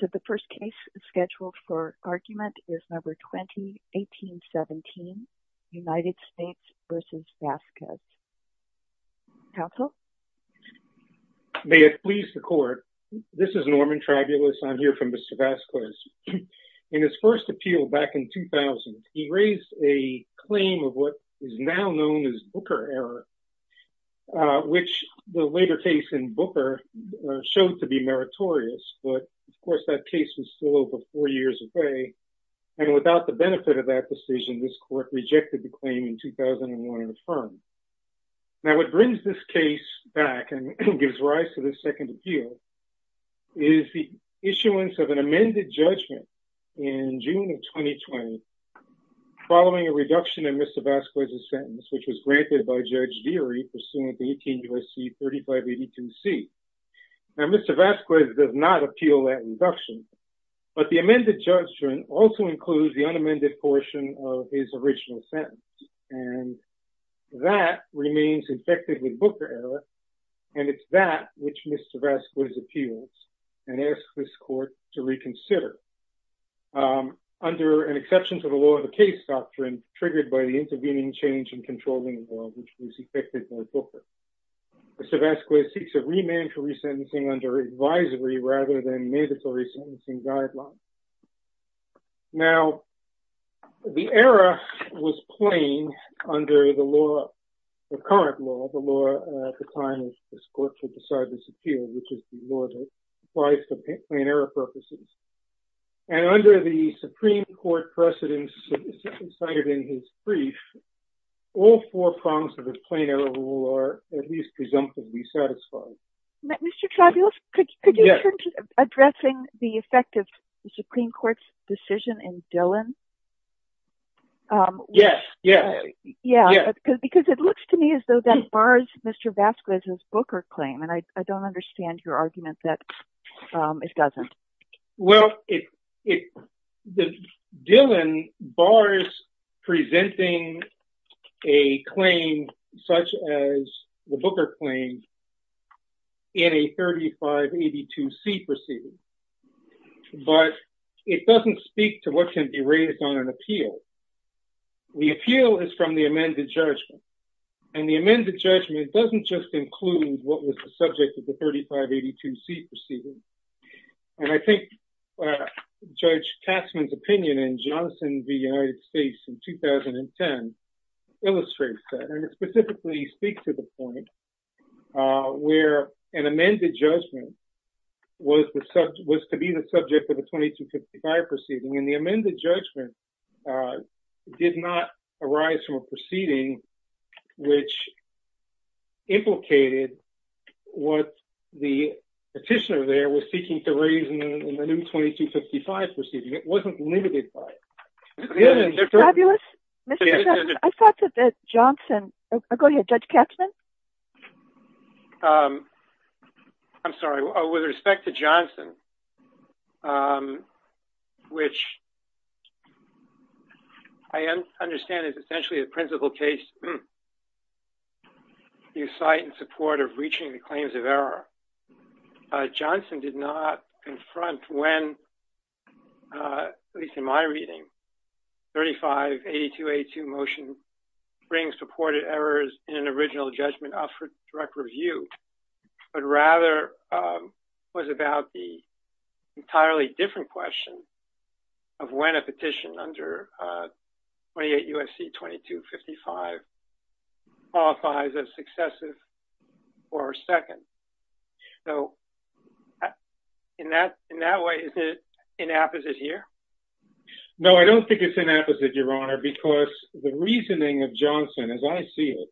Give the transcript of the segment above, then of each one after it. So the first case scheduled for argument is number 2018-17, United States v. Vazquez. Counsel? May it please the court, this is Norman Tribulus. I'm here from Mr. Vazquez. In his first appeal back in 2000, he raised a claim of what is now known as Booker error, which the later case in Booker showed to be meritorious, but of course that case was still over four years away, and without the benefit of that decision, this court rejected the claim in 2001 and affirmed. Now what brings this case back and gives rise to the second appeal is the issuance of an amended judgment in June of 2020 following a reduction in Mr. Vazquez's jury pursuant to 18 U.S.C. 3582C. Now Mr. Vazquez does not appeal that reduction, but the amended judgment also includes the unamended portion of his original sentence, and that remains infected with Booker error, and it's that which Mr. Vazquez appeals and asks this court to reconsider. Under an exception to the law of the case doctrine triggered by the intervening change in controlling law, which was effected by Booker, Mr. Vazquez seeks a remand for resentencing under advisory rather than mandatory sentencing guidelines. Now the error was plain under the law, the current law, the law at the time of this court to decide this appeal, which is the law that applies to plain error purposes, and under the Supreme Court precedents cited in his brief, all four prongs of the plain error rule are at least presumptively satisfied. Mr. Travulis, could you turn to addressing the effect of the Supreme Court's decision in Dillon? Yes, yeah. Yeah, because it looks to me as though that bars Mr. Vazquez's Booker claim, and I don't understand your argument that it doesn't. Well, Dillon bars presenting a claim such as the Booker claim in a 3582C proceeding, but it doesn't speak to what can be raised on an appeal. The appeal is from the amended judgment, and the amended judgment doesn't just include what was the subject of the 3582C proceeding, and I think Judge Tasman's opinion in Johnson v. United States in 2010 illustrates that, and it specifically speaks to the point where an amended judgment was to be the subject of a 2255 proceeding, and the amended judgment did not arise from a proceeding which implicated what the petitioner there was seeking to raise in the new 2255 proceeding. It wasn't limited by it. Travulis, I thought that Johnson, oh go ahead, Judge Katzmann. I'm sorry, with respect to Johnson, which I understand is essentially a principle case you cite in support of reaching the claims of error. Johnson did not confront when, at least in my reading, 3582A2 motion brings reported errors in an original judgment up for review, but rather was about the entirely different question of when a petition under 28 U.S.C. 2255 qualifies as successive or second. So in that way, is it inapposite here? No, I don't think it's inapposite, Your Honor, because the reasoning of Johnson, as I see it,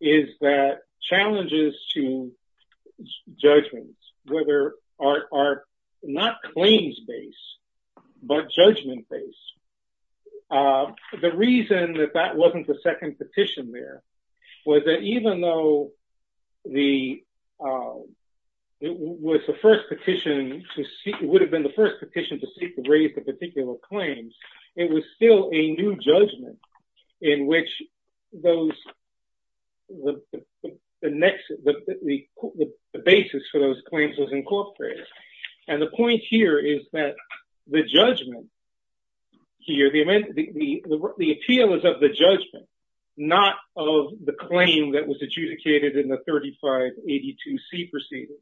is that challenges to judgments are not claims-based, but judgment-based. The reason that that wasn't the second petition there was that even though it was the first petition, it would have been the first petition to seek to raise the particular claims, it was still a new judgment in which the basis for those claims was incorporated. And the point here is that the judgment here, the appeal is of the judgment, not of the claim that was adjudicated in the 3582C proceeding.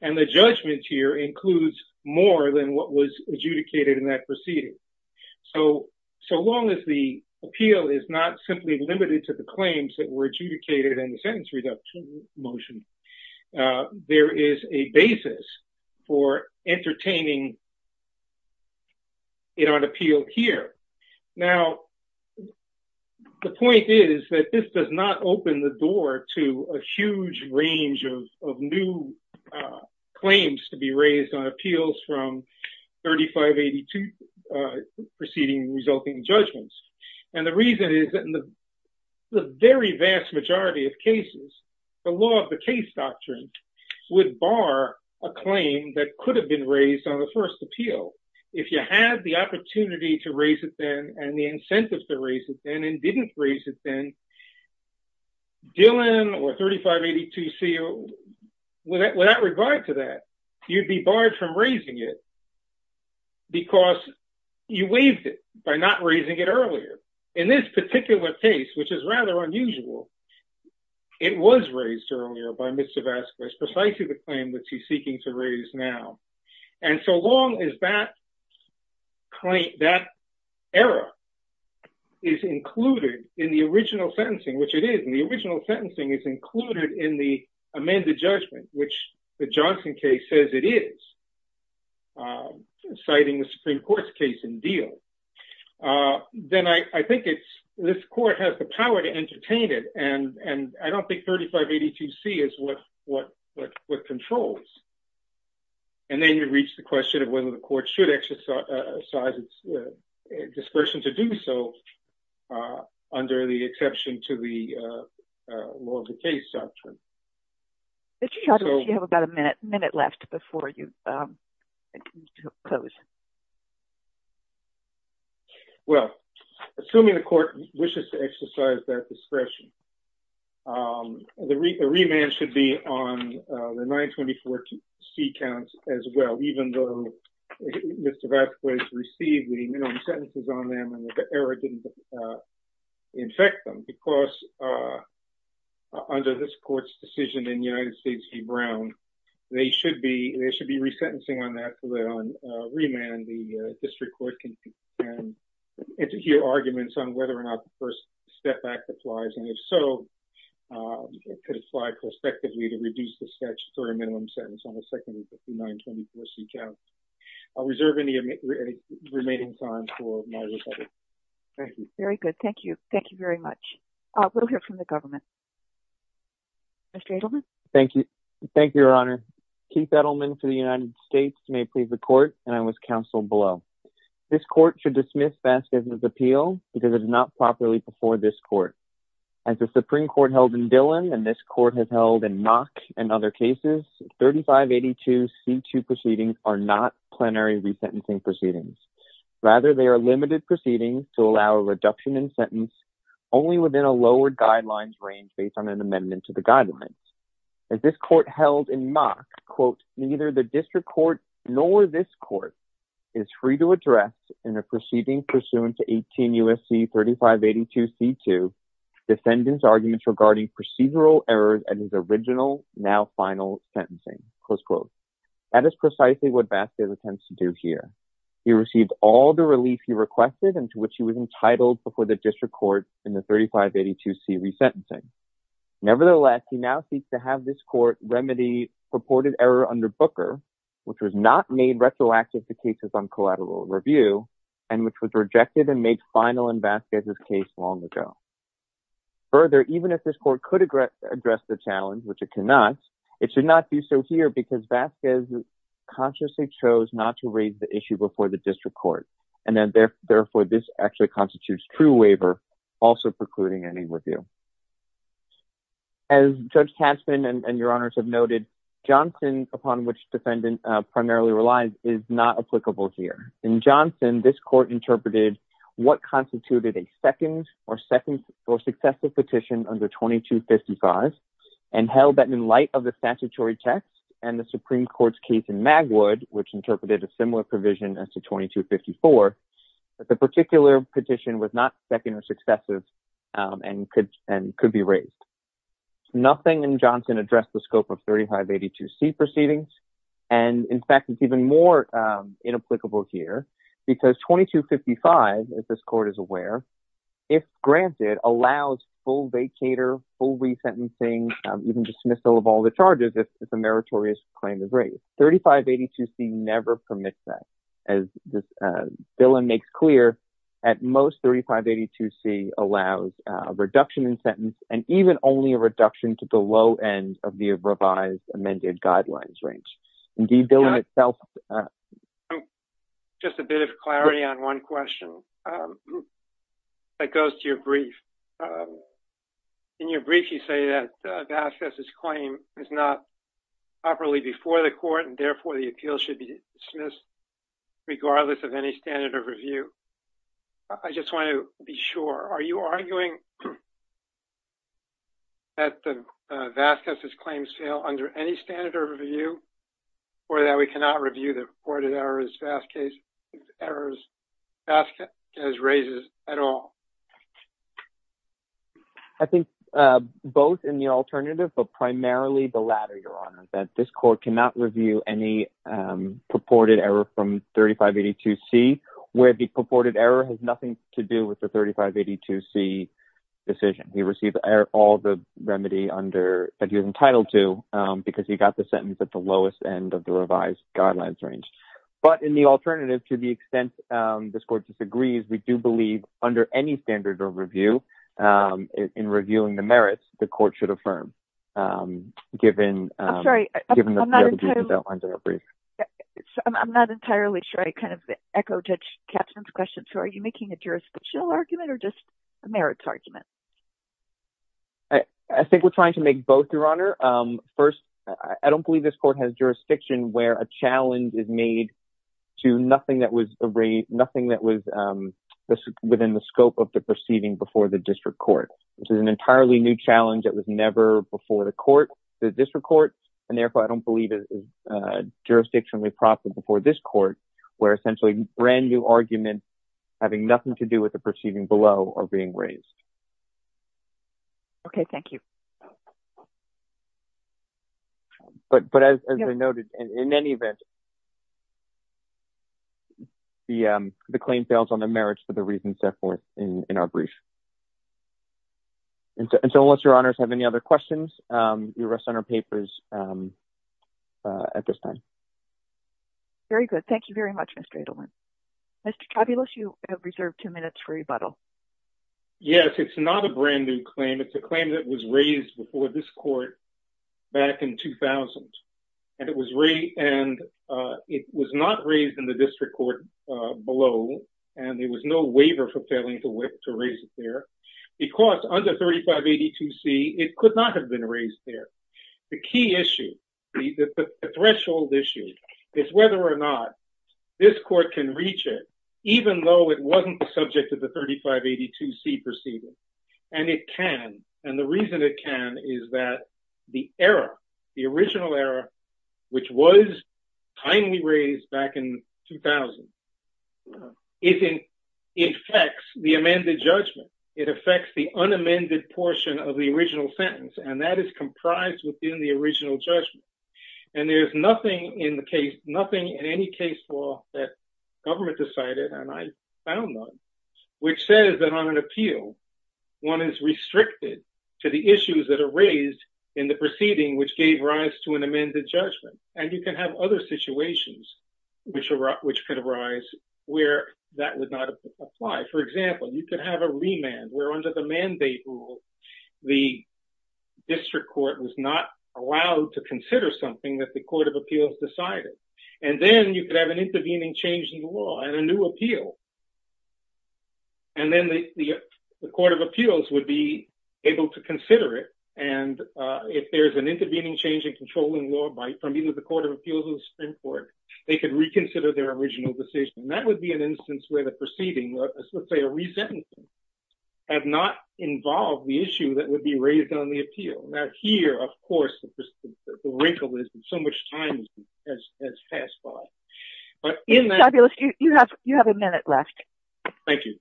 And the judgment here includes more than what was adjudicated in that so long as the appeal is not simply limited to the claims that were adjudicated in the sentence reduction motion. There is a basis for entertaining it on appeal here. Now, the point is that this does not open the door to a huge range of new claims to be raised on appeals from 3582 proceeding resulting judgments. And the reason is that in the very vast majority of cases, the law of the case doctrine would bar a claim that could have been raised on the first appeal. If you had the opportunity to raise it then and the incentives to raise it then and didn't raise it then, Dillon or 3582C, without regard to that, you'd be barred from raising it because you waived it by not raising it earlier. In this particular case, which is rather unusual, it was raised earlier by Mr. Vasquez, precisely the claim that he's seeking to raise now. And so long as that error is included in the original sentencing, which it is, and the original sentencing is included in the amended judgment, which the Johnson case says it is, citing the Supreme Court's case in Dillon, then I think this court has the power to entertain it. And I don't think 3582C is what controls. And then you reach the question of whether the court should exercise its dispersion to do so under the exception to the law of the case doctrine. But you have about a minute left before you close. Well, assuming the court wishes to exercise that discretion, the remand should be on the 924C count as well, even though Mr. Vasquez received the sentences on them and the error didn't infect them. Because under this court's decision in United States v. Brown, they should be resentencing on that for the remand. The district court can hear arguments on whether or not the First Step Act applies. And if so, it could apply prospectively to reduce the statute for a minimum sentence on the second 924C count. I'll reserve any remaining time for my rebuttal. Thank you. Very good. Thank you. Thank you very much. We'll hear from the government. Mr. Edelman? Thank you. Thank you, Your Honor. Keith Edelman for the United States may plead the court, and I was counseled below. This court should dismiss Vasquez's appeal because it is not properly before this court. As the Supreme Court held in Dillon and this C-3582C2 proceedings are not plenary resentencing proceedings. Rather, they are limited proceedings to allow a reduction in sentence only within a lower guidelines range based on an amendment to the guidelines. As this court held in Mock, quote, neither the district court nor this court is free to address in a proceeding pursuant to 18 U.S.C. 3582C2 defendant's arguments regarding procedural errors at his original, now final, sentencing. Close quote. That is precisely what Vasquez intends to do here. He received all the relief he requested and to which he was entitled before the district court in the 3582C resentencing. Nevertheless, he now seeks to have this court remedy purported error under Booker, which was not made retroactive to cases on collateral review and which was rejected and made final in Vasquez's case long ago. Further, even if this court could address the challenge, which it cannot, it should not be so here because Vasquez consciously chose not to raise the issue before the district court. And therefore, this actually constitutes true waiver, also precluding any review. As Judge Tasman and your honors have noted, Johnson, upon which defendant primarily relies, is not applicable here. In Johnson, this court interpreted what constituted a second or second or successful petition under 2255 and held that in light of the statutory text and the Supreme Court's case in Magwood, which interpreted a similar provision as to 2254, that the particular petition was not second or successive and could be raised. Nothing in Johnson addressed the scope of 3582C proceedings and, in fact, is even more inapplicable here because 2255, as this court is aware, if granted, allows full vacator, full resentencing, even dismissal of all the charges if a meritorious claim is raised. 3582C never permits that. As Billen makes clear, at most 3582C allows a reduction in sentence and even only a reduction to the low end of the revised amended guidelines range. Indeed, Billen itself... Just a bit of clarity on one question that goes to your brief. In your brief, you say that Vasquez's claim is not properly before the court and, therefore, the appeal should be dismissed regardless of any standard of review. I just want to be sure. Are you arguing that Vasquez's claims fail under any standard of review or that we cannot review the purported errors Vasquez raises at all? I think both in the alternative, but primarily the latter, Your Honor, that this court cannot review any purported error from 3582C where the purported error has nothing to do with the 3582C decision. He received all the remedy that he was entitled to because he got the sentence at the lowest end of the revised guidelines range. But in the alternative, to the extent this court disagrees, we do believe under any standard of review, in reviewing the merits, the court should affirm, given... I'm sorry. I'm not entirely sure. I kind of echo Judge Kaplan's question. So, are you making a jurisdictional argument or just a merits argument? I think we're trying to make both, Your Honor. First, I don't believe this court has jurisdiction where a challenge is made to nothing that was within the scope of the proceeding before the district court, which is an entirely new challenge that was never before the court, the district court. And therefore, I don't believe it is jurisdictionally proper before this court where essentially brand new arguments having nothing to do with the proceeding below are being raised. Okay. Thank you. But as I noted, in any event, the claim fails on the merits for the reasons set forth in our brief. And so, unless Your Honors have any other questions, we rest on our papers at this time. Very good. Thank you very much, Mr. Adelman. Mr. Trabulus, you have reserved two minutes for rebuttal. Yes, it's not a brand new claim. It's a claim that was raised before this court back in 2000. And it was not raised in the district court below. And there was no waiver for failing to raise it there. Because under 3582C, it could not have been raised there. The key issue, the threshold issue, is whether or not this court can reach it, even though it wasn't the subject of the 3582C proceeding. And it can. And the reason it can is that the error, the original error, which was timely raised back in 2000, it affects the amended judgment. It affects the unamended portion of the original sentence. And that is comprised within the original judgment. And there's nothing in the case, nothing in any case law that government decided, and I found none, which says that on an appeal, one is restricted to the issues that are raised in the proceeding which gave rise to an amended judgment. And you can have other situations which could arise where that would not apply. For example, you could have a remand where under the mandate rule, the district court was not allowed to have an intervening change in the law and a new appeal. And then the Court of Appeals would be able to consider it. And if there's an intervening change in controlling law from either the Court of Appeals or the Supreme Court, they could reconsider their original decision. That would be an instance where the proceeding, let's say a resentencing, had not involved the issue that would be raised on the appeal. Now here, of course, the wrinkle is that so much time has passed by. You have a minute left. Thank you.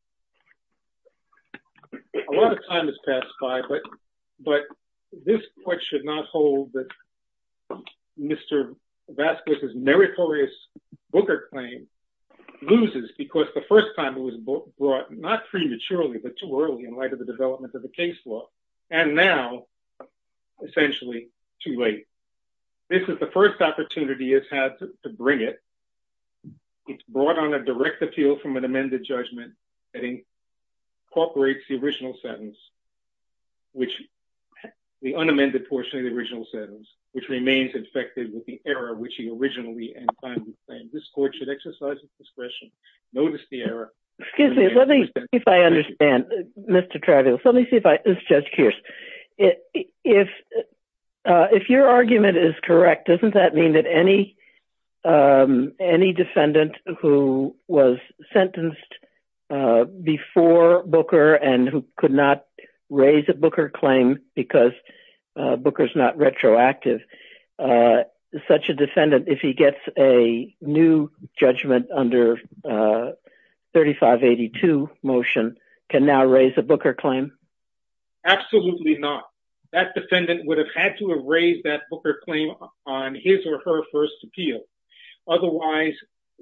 A lot of time has passed by, but this Court should not hold that Mr. Vasquez's meritorious Booker claim loses because the first time it was brought, not prematurely but too early in light of the development of the case law, and now essentially too late. This is the first opportunity it's had to bring it. It's brought on a direct appeal from an amended judgment that incorporates the original sentence, which the unamended portion of the original sentence, which remains infected with the error which he originally and finally claimed. This Court should exercise its discretion, notice the error. Excuse me, let me see if I understand, Mr. Travis. Let me see if I, it's Judge Kearse. If your argument is correct, doesn't that mean that any defendant who was sentenced before Booker and who could not raise a Booker claim because Booker's not retroactive, such a defendant, if he gets a new judgment under 3582 motion, can now raise a Booker claim? Absolutely not. That defendant would have had to have raised that Booker claim on his or her first appeal. Otherwise,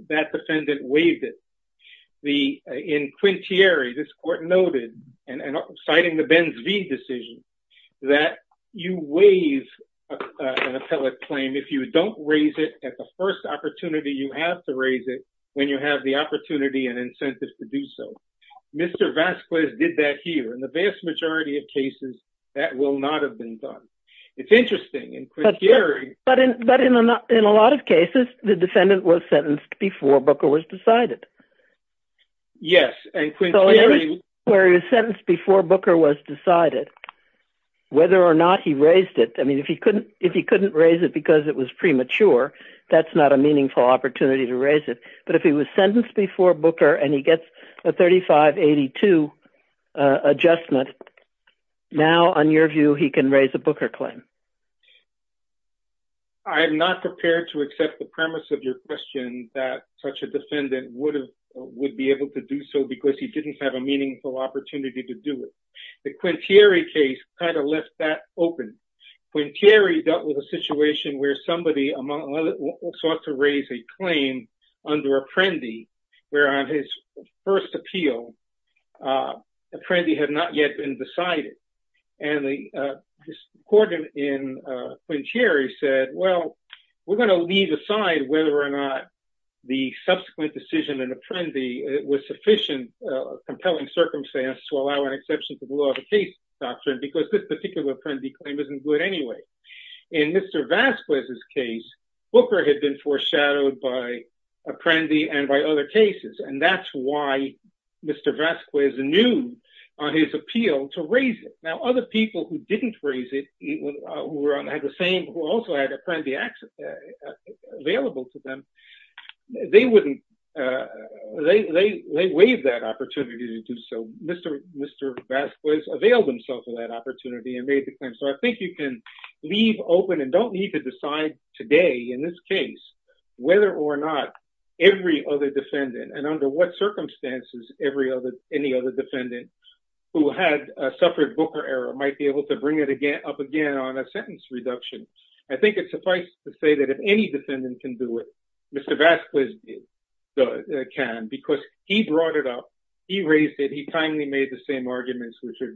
that defendant waived it. In Quintieri, this Court noted, and citing the Benz v. decision, that you waive an appellate claim if you don't raise it at the first opportunity you have to raise it when you have the opportunity and incentive to do so. Mr. Vasquez did that here, the vast majority of cases, that will not have been done. It's interesting in Quintieri. But in a lot of cases, the defendant was sentenced before Booker was decided. Yes, and Quintieri... Where he was sentenced before Booker was decided, whether or not he raised it, I mean, if he couldn't raise it because it was premature, that's not a meaningful opportunity to raise it. But if he was sentenced before Booker and he gets a 3582 adjustment, now, on your view, he can raise a Booker claim. I'm not prepared to accept the premise of your question that such a defendant would be able to do so because he didn't have a meaningful opportunity to do it. The Quintieri case kind of left that open. Quintieri dealt with a situation where somebody, among others, sought to raise a claim under Apprendi, where on his first appeal, Apprendi had not yet been decided. And the court in Quintieri said, well, we're going to leave aside whether or not the subsequent decision in Apprendi was sufficient, a compelling circumstance to allow an exception to the law of the case doctrine because this particular Apprendi claim isn't good anyway. In Mr. Vasquez's case, Booker had been foreshadowed by Apprendi and by other cases, and that's why Mr. Vasquez knew on his appeal to raise it. Now, other people who didn't raise it, who also had Apprendi available to them, they wouldn't. They waived that opportunity to do so. Mr. Vasquez availed himself of that opportunity and made the claim. So I think you can leave open and don't need to decide today in this case whether or not every other defendant, and under what circumstances any other defendant who had suffered Booker error might be able to bring it up again on a sentence reduction. I think it's suffice to say that if any defendant can do it, Mr. Vasquez can because he brought it up, he raised it, he timely made the same arguments which did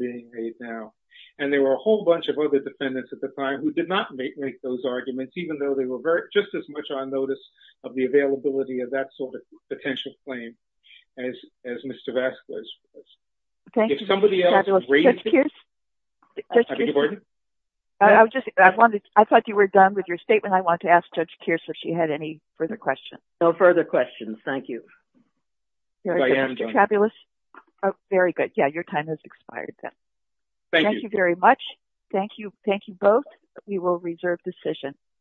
not make those arguments even though they were just as much on notice of the availability of that sort of potential claim as Mr. Vasquez was. I thought you were done with your statement. I wanted to ask Judge Kearse if she had any further questions. No further questions. Thank you. I am done. Fabulous. Very good. Yeah, your time has expired. Thank you very much. Thank you. Thank you both. We will reserve decision.